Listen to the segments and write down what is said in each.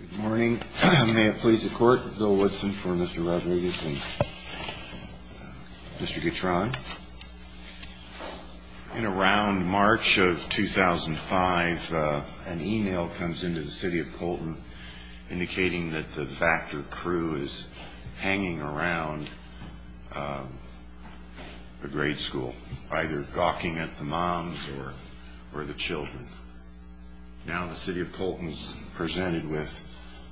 Good morning. May it please the court, Bill Woodson for Mr. Rodriguez and Mr. Guitron. In around March of 2005, an email comes in to the City of Colton indicating that the Bacter crew is hanging around the grade school, either gawking at the moms or the children. Now the City of Colton is presented with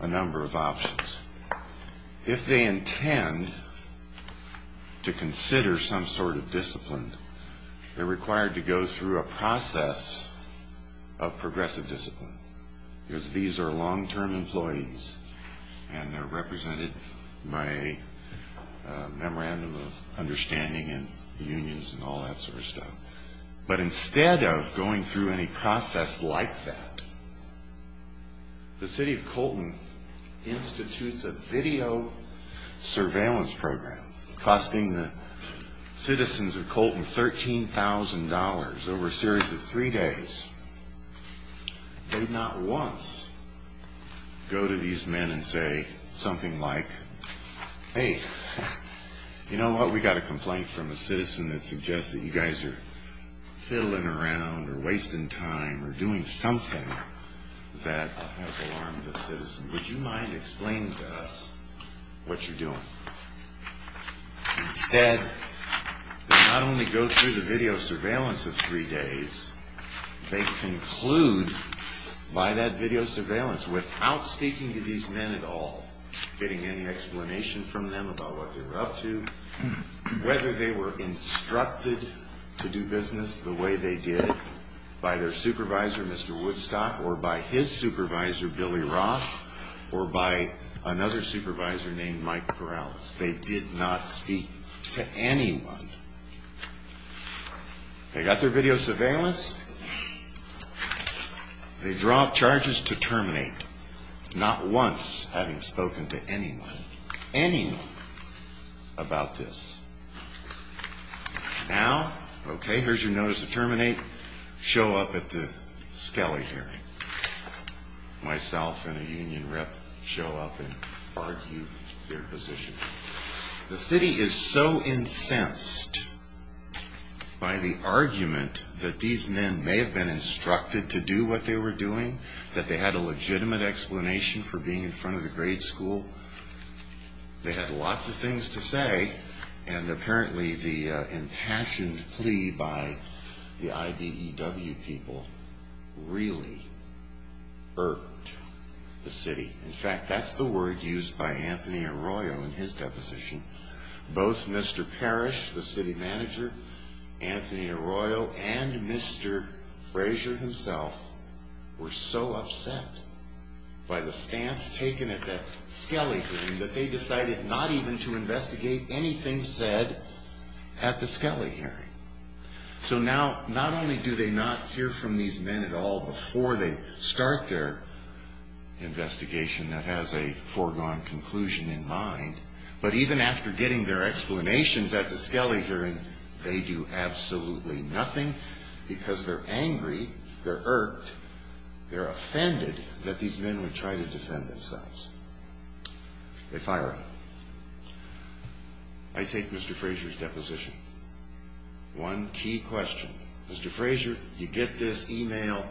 a number of options. If they intend to consider some sort of discipline, they are required to go through a process of progressive discipline. These are long-term employees and they are represented by a memorandum of understanding and unions and all that sort of stuff. But instead of going through any process like that, the City of Colton institutes a video surveillance program costing the citizens of Colton $13,000 over a series of three days. They not once go to these men and say something like, hey, you know what, we got a complaint from a citizen that suggests that you guys are fiddling around or wasting time or doing something that has alarmed the citizen. Would you mind explaining to us what you're doing? Instead, they not only go through the video surveillance of three days, they conclude by that video surveillance without speaking to these men at all, getting any explanation from them about what they were up to, whether they were instructed to do business the way they did by their supervisor, Mr. Woodstock, or by his supervisor, Billy Roth. Or by another supervisor named Mike Perales. They did not speak to anyone. They got their video surveillance. They dropped charges to terminate, not once having spoken to anyone, anyone about this. Now, okay, here's your notice to terminate. Show up at the Scali hearing. Myself and a union rep show up and argue their position. The city is so incensed by the argument that these men may have been instructed to do what they were doing, that they had a legitimate explanation for being in front of the grade school. They had lots of things to say, and apparently the impassioned plea by the IBEW people really irked the city. In fact, that's the word used by Anthony Arroyo in his deposition. Both Mr. Parrish, the city manager, Anthony Arroyo, and Mr. Frazier himself were so upset by the stance taken at the Scali hearing that they decided not even to investigate anything said at the Scali hearing. So now, not only do they not hear from these men at all before they start their investigation that has a foregone conclusion in mind, but even after getting their explanations at the Scali hearing, they do absolutely nothing because they're angry, they're irked, they're offended that these men would try to defend themselves. They fire him. I take Mr. Frazier's deposition. One key question. Mr. Frazier, you get this email.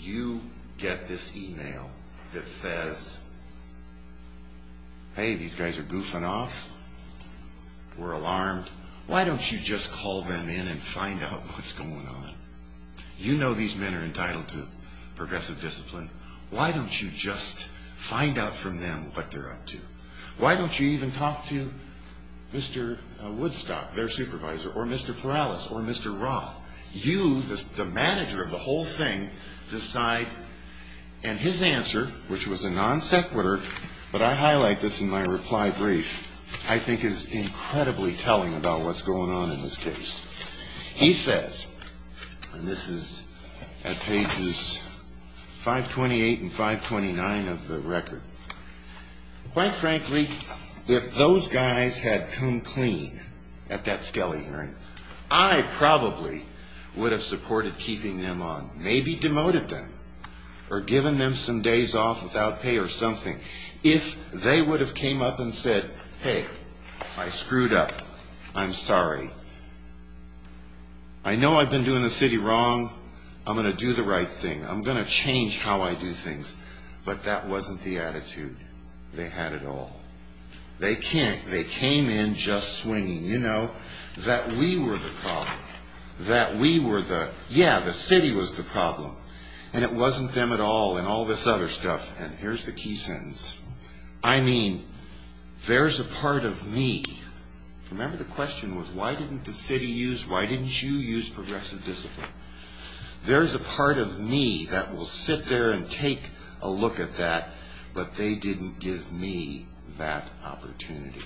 You get this email that says, hey, these guys are goofing off. We're alarmed. Why don't you just call them in and find out what's going on? You know these men are entitled to progressive discipline. Why don't you just find out from them what they're up to? Why don't you even talk to Mr. Woodstock, their supervisor, or Mr. Perales, or Mr. Roth? You, the manager of the whole thing, decide. And his answer, which was a non sequitur, but I highlight this in my reply brief, I think is incredibly telling about what's going on in this case. He says, and this is at pages 528 and 529 of the record, quite frankly, if those guys had come clean at that Scali hearing, I probably would have supported keeping them on, maybe demoted them. Or given them some days off without pay or something. If they would have came up and said, hey, I screwed up. I'm sorry. I know I've been doing the city wrong. I'm going to do the right thing. I'm going to change how I do things. But that wasn't the attitude they had at all. They came in just swinging. You know, that we were the problem. That we were the, yeah, the city was the problem. And it wasn't them at all and all this other stuff. And here's the key sentence. I mean, there's a part of me. Remember the question was, why didn't the city use, why didn't you use progressive discipline? There's a part of me that will sit there and take a look at that, but they didn't give me that opportunity.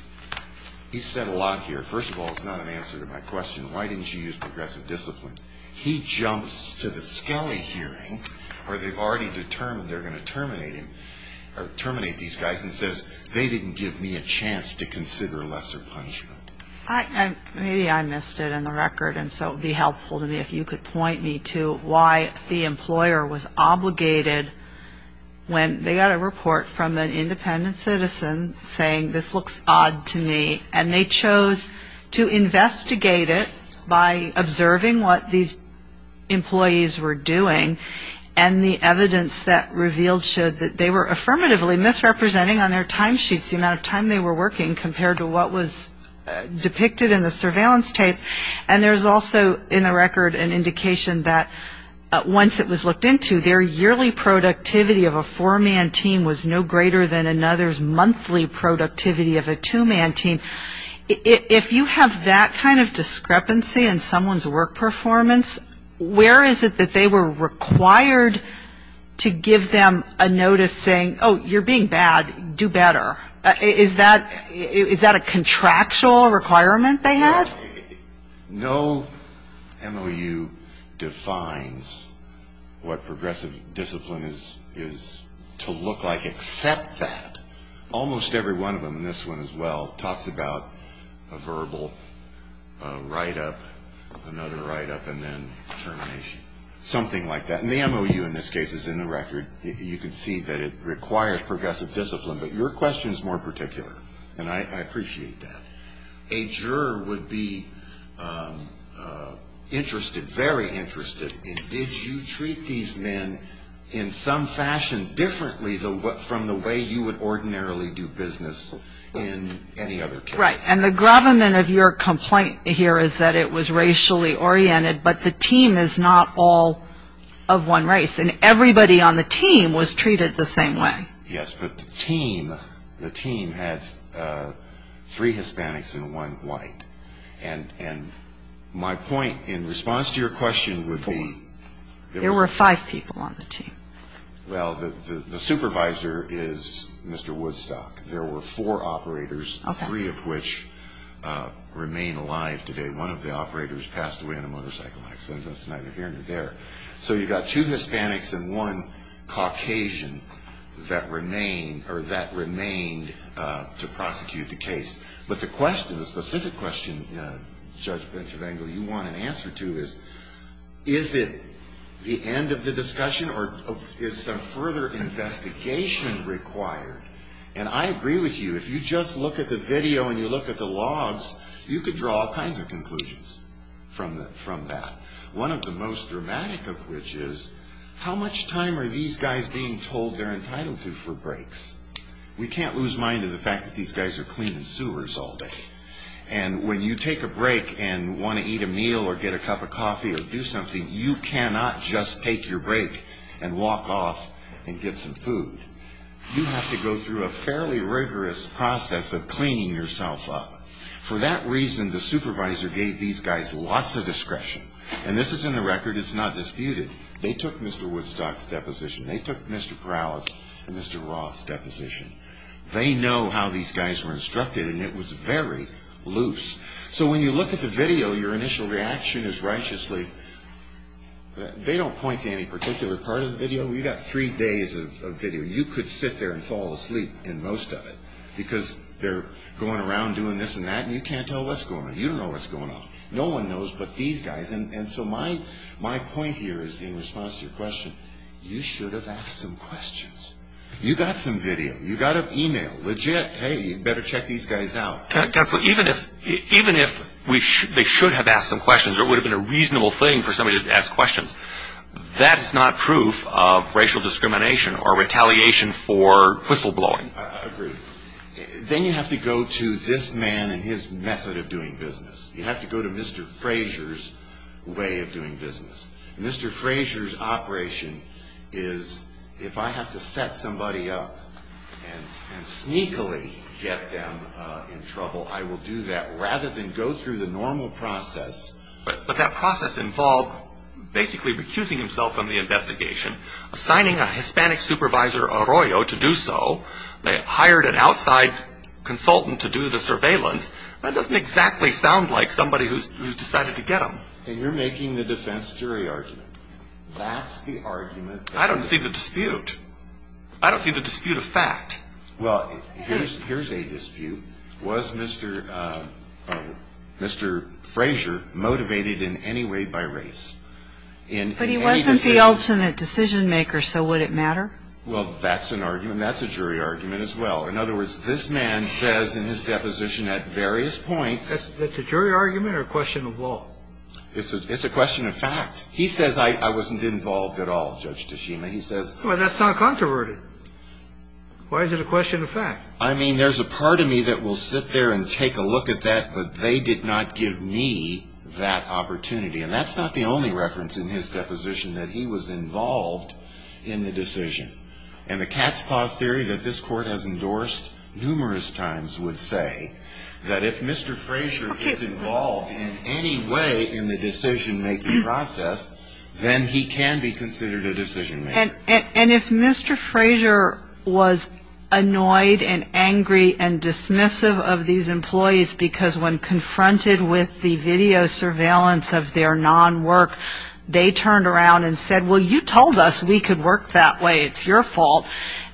He said a lot here. First of all, it's not an answer to my question. Why didn't you use progressive discipline? He jumps to the Scali hearing where they've already determined they're going to terminate him, terminate these guys and says, they didn't give me a chance to consider lesser punishment. Maybe I missed it in the record. And so it would be helpful to me if you could point me to why the employer was obligated when they got a report from an independent citizen saying this looks odd to me. And they chose to investigate it by observing what these employees were doing. And the evidence that revealed showed that they were affirmatively misrepresenting on their timesheets the amount of time they were working compared to what was depicted in the surveillance tape. And there's also in the record an indication that once it was looked into, their yearly productivity of a four-man team was no greater than another's monthly productivity of a two-man team. If you have that kind of discrepancy in someone's work performance, where is it that they were required to give them a notice saying, oh, you're being bad, do better? Is that a contractual requirement they had? No MOU defines what progressive discipline is to look like except that. Almost every one of them, and this one as well, talks about a verbal write-up, another write-up, and then termination. Something like that. And the MOU in this case is in the record. You can see that it requires progressive discipline. But your question is more particular, and I appreciate that. A juror would be interested, very interested, in did you treat these men in some fashion differently from the way you would ordinarily do business in any other case? Right. And the gravamen of your complaint here is that it was racially oriented, but the team is not all of one race. And everybody on the team was treated the same way. Yes, but the team, the team had three Hispanics and one white. And my point in response to your question would be... There were five people on the team. Well, the supervisor is Mr. Woodstock. There were four operators, three of which remain alive today. One of the operators passed away in a motorcycle accident. That's neither here nor there. So you've got two Hispanics and one Caucasian that remained, or that remained to prosecute the case. But the question, the specific question, Judge Bentravango, you want an answer to is, is it the end of the discussion or is some further investigation required? And I agree with you. If you just look at the video and you look at the logs, you could draw all kinds of conclusions from that. One of the most dramatic of which is, how much time are these guys being told they're entitled to for breaks? We can't lose mind of the fact that these guys are cleaning sewers all day. And when you take a break and want to eat a meal or get a cup of coffee or do something, you cannot just take your break and walk off and get some food. You have to go through a fairly rigorous process of cleaning yourself up. For that reason, the supervisor gave these guys lots of discretion. And this is in the record. It's not disputed. They took Mr. Woodstock's deposition. They took Mr. Corrales and Mr. Roth's deposition. They know how these guys were instructed, and it was very loose. So when you look at the video, your initial reaction is, righteously, they don't point to any particular part of the video. You've got three days of video. You could sit there and fall asleep in most of it because they're going around doing this and that, and you can't tell what's going on. You don't know what's going on. No one knows but these guys. And so my point here is in response to your question, you should have asked some questions. You got some video. You got an email. Legit, hey, you better check these guys out. Even if they should have asked some questions or it would have been a reasonable thing for somebody to ask questions, that is not proof of racial discrimination or retaliation for whistleblowing. Then you have to go to this man and his method of doing business. You have to go to Mr. Frazier's way of doing business. Mr. Frazier's operation is if I have to set somebody up and sneakily get them in trouble, I will do that rather than go through the normal process. But that process involved basically recusing himself from the investigation, assigning a Hispanic supervisor Arroyo to do so, hired an outside consultant to do the surveillance. That doesn't exactly sound like somebody who's decided to get them. And you're making the defense jury argument. That's the argument. I don't see the dispute. I don't see the dispute of fact. Well, here's a dispute. Was Mr. Frazier motivated in any way by race? But he wasn't the ultimate decision maker, so would it matter? Well, that's an argument. That's a jury argument as well. In other words, this man says in his deposition at various points. That's a jury argument or a question of law? It's a question of fact. He says I wasn't involved at all, Judge Tashima. He says. Well, that's not controverted. Why is it a question of fact? I mean, there's a part of me that will sit there and take a look at that, but they did not give me that opportunity. And that's not the only reference in his deposition that he was involved in the decision. And the cat's paw theory that this Court has endorsed numerous times would say that if Mr. Frazier is involved in any way in the decision making process, then he can be considered a decision maker. And if Mr. Frazier was annoyed and angry and dismissive of these employees because when confronted with the video surveillance of their non-work, they turned around and said, well, you told us we could work that way. It's your fault.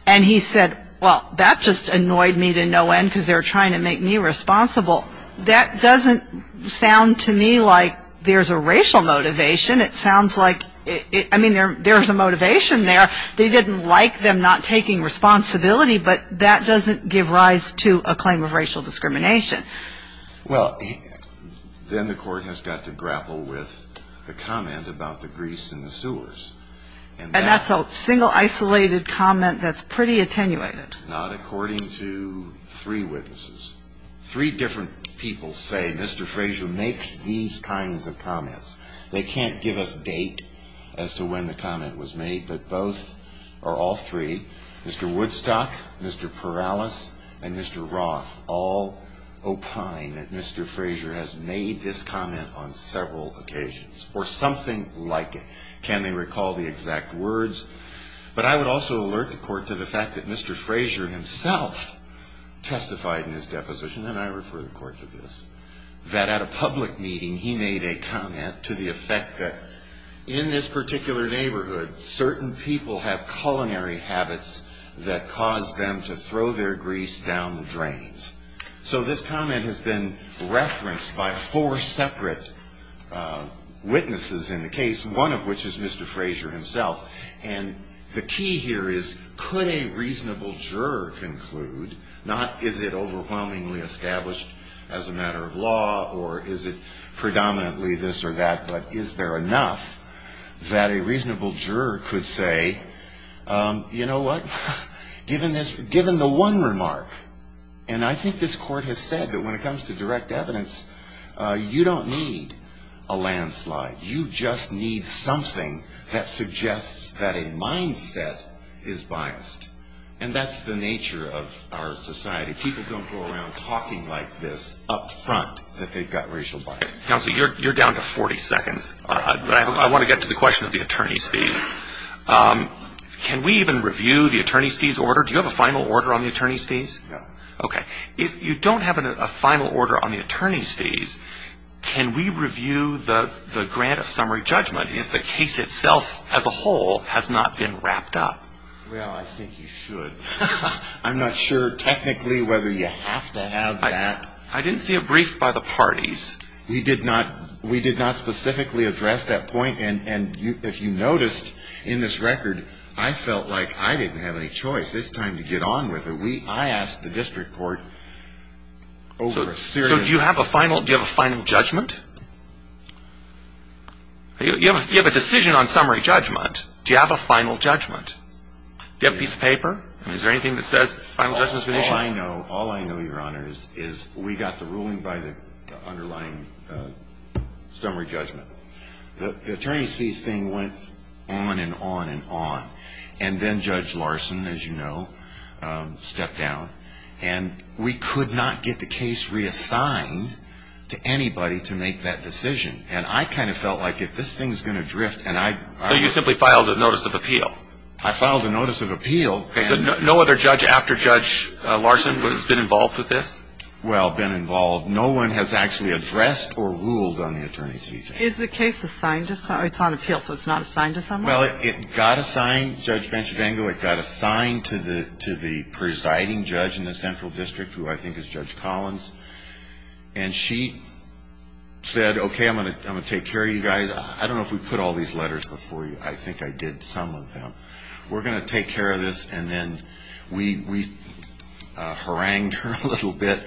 And he said, well, that just annoyed me to no end because they were trying to make me responsible. Well, that doesn't sound to me like there's a racial motivation. It sounds like, I mean, there's a motivation there. They didn't like them not taking responsibility, but that doesn't give rise to a claim of racial discrimination. Well, then the Court has got to grapple with the comment about the grease in the sewers. And that's a single, isolated comment that's pretty attenuated. Three different people say Mr. Frazier makes these kinds of comments. They can't give us date as to when the comment was made, but both or all three, Mr. Woodstock, Mr. Perales, and Mr. Roth, all opine that Mr. Frazier has made this comment on several occasions or something like it. Can they recall the exact words? But I would also alert the Court to the fact that Mr. Frazier himself testified in his deposition, and I refer the Court to this, that at a public meeting he made a comment to the effect that in this particular neighborhood, certain people have culinary habits that cause them to throw their grease down the drains. So this comment has been referenced by four separate witnesses in the case, one of which is Mr. Frazier himself. And the key here is could a reasonable juror conclude, not is it overwhelmingly established as a matter of law, or is it predominantly this or that, but is there enough that a reasonable juror could say, you know what, given the one remark, and I think this Court has said that when it comes to direct evidence, you don't need a landslide. You just need something that suggests that a mindset is biased, and that's the nature of our society. People don't go around talking like this up front that they've got racial bias. Counsel, you're down to 40 seconds, but I want to get to the question of the attorney's fees. Can we even review the attorney's fees order? Do you have a final order on the attorney's fees? No. Okay. If you don't have a final order on the attorney's fees, can we review the grant of summary judgment if the case itself as a whole has not been wrapped up? Well, I think you should. I'm not sure technically whether you have to have that. I didn't see a brief by the parties. We did not specifically address that point, and if you noticed in this record, I felt like I didn't have any choice. It's time to get on with it. I asked the district court over a series of questions. So do you have a final judgment? You have a decision on summary judgment. Do you have a final judgment? Do you have a piece of paper? Is there anything that says final judgment has been issued? All I know, all I know, Your Honor, is we got the ruling by the underlying summary judgment. The attorney's fees thing went on and on and on, and then Judge Larson, as you know, stepped down, and we could not get the case reassigned to anybody to make that decision. And I kind of felt like if this thing's going to drift, and I – So you simply filed a notice of appeal? I filed a notice of appeal. So no other judge after Judge Larson has been involved with this? Well, been involved. No one has actually addressed or ruled on the attorney's fees thing. Is the case assigned to someone? It's on appeal, so it's not assigned to someone? Well, it got assigned, Judge Benchvango, it got assigned to the presiding judge in the central district, who I think is Judge Collins, and she said, okay, I'm going to take care of you guys. I don't know if we put all these letters before you. I think I did some of them. We're going to take care of this, and then we harangued her a little bit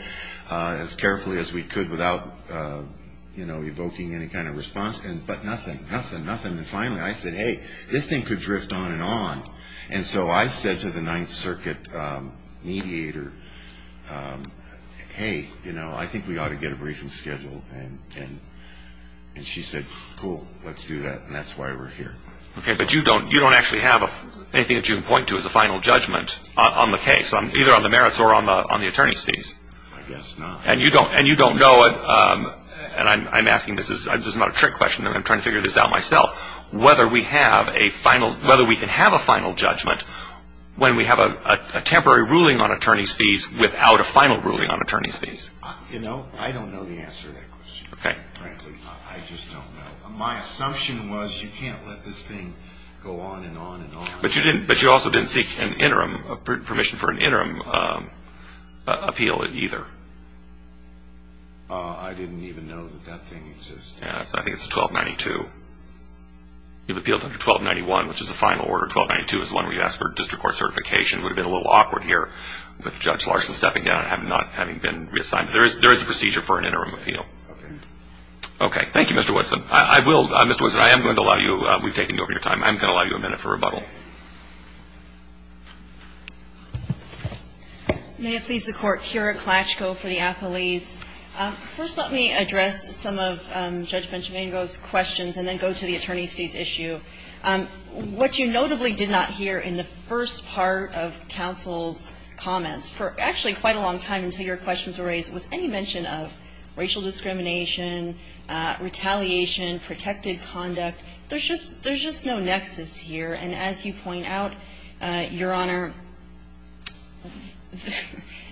as carefully as we could without, you know, evoking any kind of response, but nothing, nothing, nothing. And finally I said, hey, this thing could drift on and on. And so I said to the Ninth Circuit mediator, hey, you know, I think we ought to get a briefing scheduled, and she said, cool, let's do that, and that's why we're here. Okay, but you don't actually have anything that you can point to as a final judgment on the case, either on the merits or on the attorney's fees. I guess not. And you don't know, and I'm asking this, this is not a trick question, I'm trying to figure this out myself, whether we can have a final judgment when we have a temporary ruling on attorney's fees without a final ruling on attorney's fees. You know, I don't know the answer to that question, frankly. Okay. I just don't know. My assumption was you can't let this thing go on and on and on. But you also didn't seek an interim, permission for an interim appeal either. I didn't even know that that thing existed. Yes, I think it's 1292. You've appealed under 1291, which is the final order. 1292 is the one where you ask for district court certification. It would have been a little awkward here with Judge Larson stepping down and not having been reassigned. There is a procedure for an interim appeal. Okay. Okay, thank you, Mr. Woodson. I will, Mr. Woodson, I am going to allow you, we've taken over your time, I'm going to allow you a minute for rebuttal. May it please the Court. Kira Klatchko for the athletes. First, let me address some of Judge Benchmango's questions and then go to the attorney's fees issue. What you notably did not hear in the first part of counsel's comments, for actually quite a long time until your questions were raised, was any mention of racial discrimination, retaliation, protected conduct. There's just no nexus here. And as you point out, Your Honor,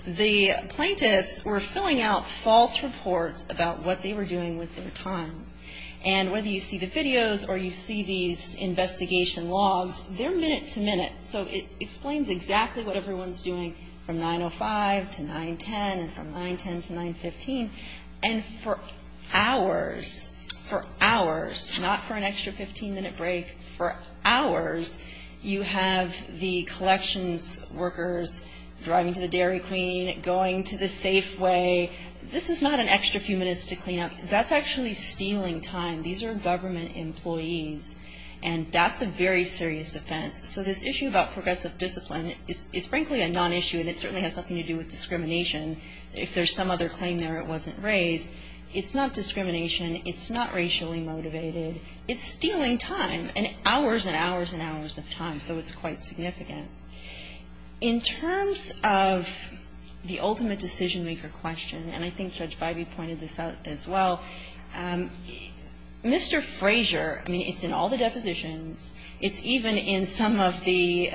the plaintiffs were filling out false reports about what they were doing with their time. And whether you see the videos or you see these investigation logs, they're minute to minute. So it explains exactly what everyone's doing from 905 to 910 and from 910 to 915. And for hours, for hours, not for an extra 15-minute break, for hours, you have the collections workers driving to the Dairy Queen, going to the Safeway. This is not an extra few minutes to clean up. That's actually stealing time. These are government employees. And that's a very serious offense. So this issue about progressive discipline is frankly a non-issue and it certainly has nothing to do with discrimination. If there's some other claim there it wasn't raised. It's not discrimination. It's not racially motivated. It's stealing time and hours and hours and hours of time. So it's quite significant. In terms of the ultimate decision-maker question, and I think Judge Bybee pointed this out as well, Mr. Frazier, I mean, it's in all the depositions. It's even in some of the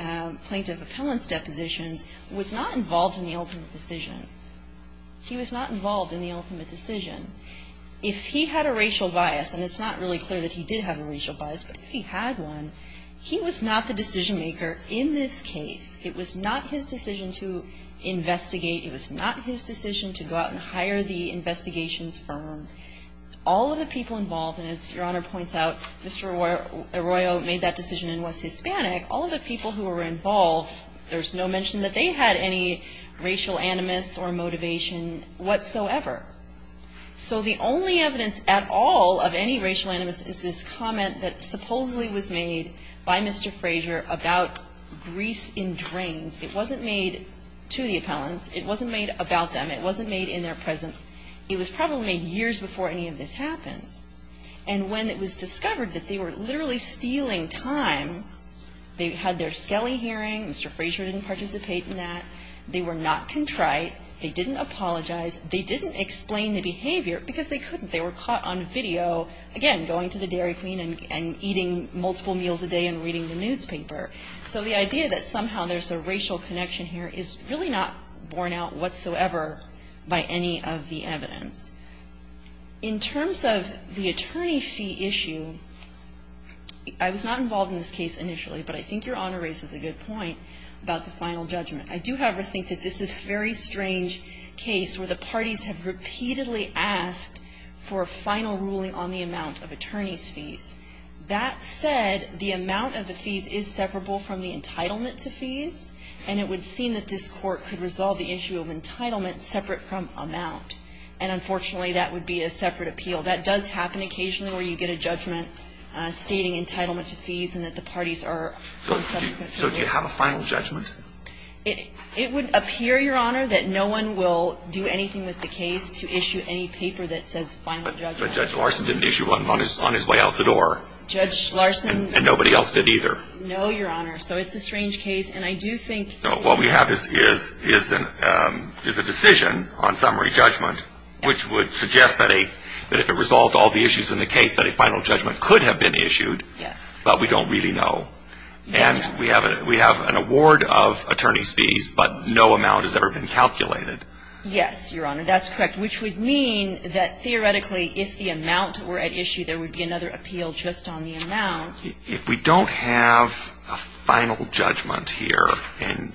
plaintiff appellant's depositions, was not involved in the ultimate decision. He was not involved in the ultimate decision. If he had a racial bias, and it's not really clear that he did have a racial bias, but if he had one, he was not the decision-maker in this case. It was not his decision to investigate. It was not his decision to go out and hire the investigations firm. All of the people involved, and as Your Honor points out, Mr. Arroyo made that decision and was Hispanic. All of the people who were involved, there's no mention that they had any racial animus or motivation whatsoever. So the only evidence at all of any racial animus is this comment that supposedly was made by Mr. Frazier about grease in drains. It wasn't made to the appellants. It wasn't made about them. It wasn't made in their presence. It was probably made years before any of this happened. And when it was discovered that they were literally stealing time, they had their skelly hearing. Mr. Frazier didn't participate in that. They were not contrite. They didn't apologize. They didn't explain the behavior because they couldn't. They were caught on video, again, going to the Dairy Queen and eating multiple meals a day and reading the newspaper. So the idea that somehow there's a racial connection here is really not borne out whatsoever by any of the evidence. In terms of the attorney fee issue, I was not involved in this case initially, but I think Your Honor raises a good point about the final judgment. I do, however, think that this is a very strange case where the parties have repeatedly asked for a final ruling on the amount of attorneys' fees. That said, the amount of the fees is separable from the entitlement to fees, and it would seem that this Court could resolve the issue of entitlement separate from amount. And unfortunately, that would be a separate appeal. That does happen occasionally where you get a judgment stating entitlement to fees and that the parties are on subsequent fees. So do you have a final judgment? It would appear, Your Honor, that no one will do anything with the case to issue any paper that says final judgment. But Judge Larson didn't issue one on his way out the door. Judge Larson And nobody else did either. No, Your Honor. So it's a strange case, and I do think What we have is a decision on summary judgment which would suggest that if it resolved all the issues in the case, that a final judgment could have been issued. Yes. But we don't really know. And we have an award of attorneys' fees, but no amount has ever been calculated. Yes, Your Honor. That's correct. Which would mean that theoretically if the amount were at issue, there would be another appeal just on the amount. If we don't have a final judgment here and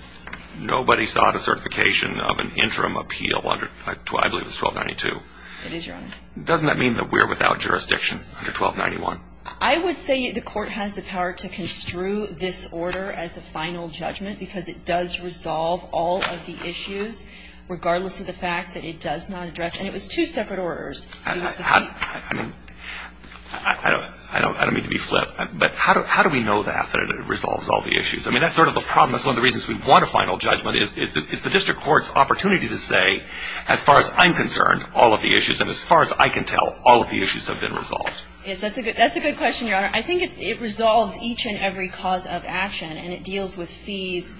nobody sought a certification of an interim appeal, I believe it's 1292. It is, Your Honor. Doesn't that mean that we're without jurisdiction under 1291? I would say the Court has the power to construe this order as a final judgment because it does resolve all of the issues, regardless of the fact that it does not address, and it was two separate orders. I don't mean to be flip. But how do we know that, that it resolves all the issues? I mean, that's sort of the problem. That's one of the reasons we want a final judgment, is the district court's opportunity to say, as far as I'm concerned, all of the issues, and as far as I can tell, all of the issues have been resolved. Yes, that's a good question, Your Honor. I think it resolves each and every cause of action, and it deals with fees.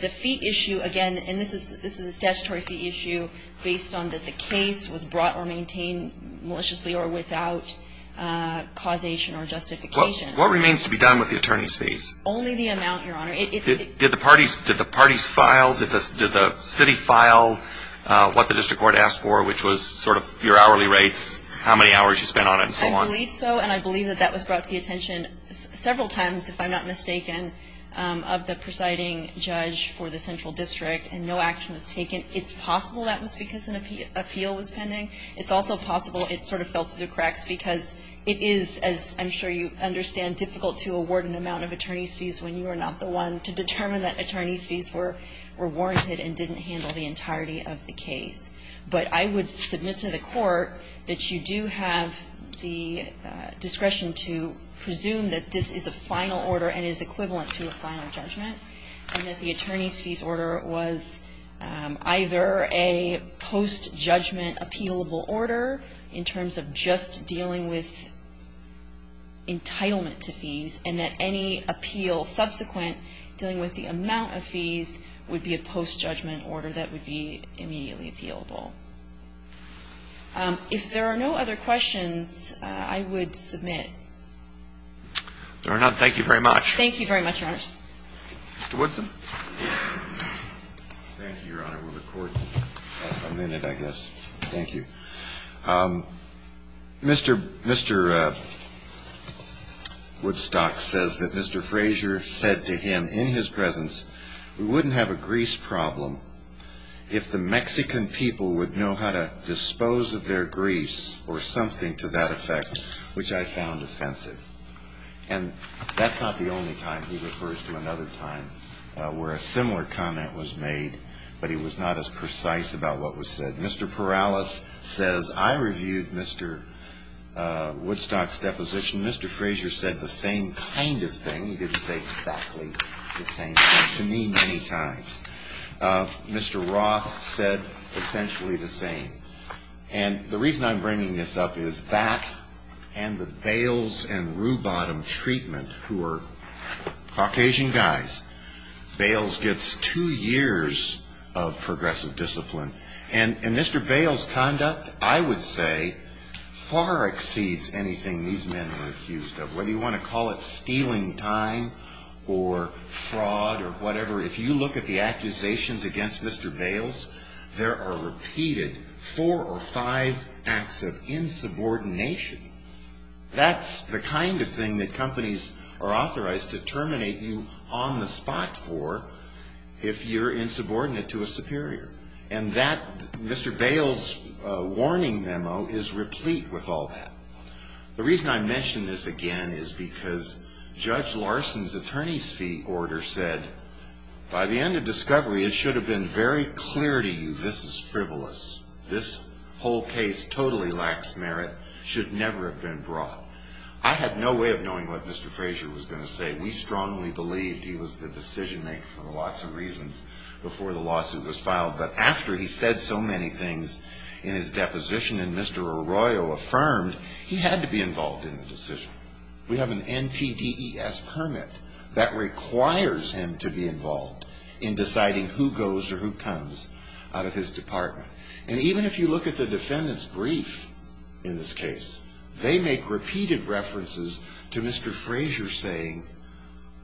The fee issue, again, and this is a statutory fee issue based on that the case was brought or maintained maliciously or without causation or justification. What remains to be done with the attorney's fees? Only the amount, Your Honor. Did the parties file? Did the city file what the district court asked for, which was sort of your hourly rates, how many hours you spent on it, and so on? I believe so, and I believe that that was brought to the attention several times, if I'm not mistaken, of the presiding judge for the central district, and no action was taken. It's possible that was because an appeal was pending. It's also possible it sort of fell through the cracks because it is, as I'm sure you understand, difficult to award an amount of attorney's fees when you are not the one to determine that attorney's fees were warranted and didn't handle the entirety of the case. But I would submit to the court that you do have the discretion to presume that this is a final order and is equivalent to a final judgment, and that the attorney's fees order was either a post-judgment appealable order in terms of just dealing with entitlement to fees, and that any appeal subsequent dealing with the amount of fees would be a post-judgment order that would be immediately appealable. If there are no other questions, I would submit. Your Honor, thank you very much. Thank you very much, Your Honors. Mr. Woodson. Thank you, Your Honor. We'll record in a minute, I guess. Thank you. Mr. Woodstock says that Mr. Frazier said to him in his presence, we wouldn't have a Greece problem if the Mexican people would know how to dispose of their Greece or something to that effect, which I found offensive. And that's not the only time. He refers to another time where a similar comment was made, but he was not as precise about what was said. Mr. Perales says, I reviewed Mr. Woodstock's deposition. Mr. Frazier said the same kind of thing. He didn't say exactly the same thing to me many times. Mr. Roth said essentially the same. And the reason I'm bringing this up is that and the Bales and Ruebottom treatment, who are Caucasian guys, Bales gets two years of progressive discipline. And Mr. Bales' conduct, I would say, far exceeds anything these men are accused of, whether you want to call it stealing time or fraud or whatever. If you look at the accusations against Mr. Bales, there are repeated four or five acts of insubordination. That's the kind of thing that companies are authorized to terminate you on the And that Mr. Bales' warning memo is replete with all that. The reason I mention this again is because Judge Larson's attorney's fee order said by the end of discovery it should have been very clear to you this is frivolous. This whole case totally lacks merit, should never have been brought. I had no way of knowing what Mr. Frazier was going to say. We strongly believed he was the decision maker for lots of reasons before the case was filed, but after he said so many things in his deposition and Mr. Arroyo affirmed, he had to be involved in the decision. We have an NPDES permit that requires him to be involved in deciding who goes or who comes out of his department. And even if you look at the defendant's brief in this case, they make repeated references to Mr. Frazier saying,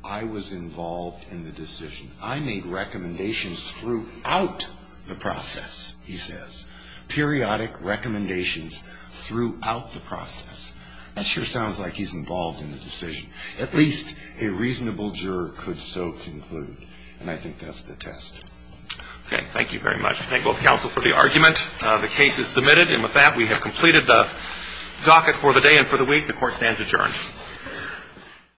I was involved in the decision. I made recommendations throughout the process, he says. Periodic recommendations throughout the process. That sure sounds like he's involved in the decision. At least a reasonable juror could so conclude. And I think that's the test. Okay. Thank you very much. I thank both counsel for the argument. The case is submitted. And with that, we have completed the docket for the day and for the week. The Court stands adjourned.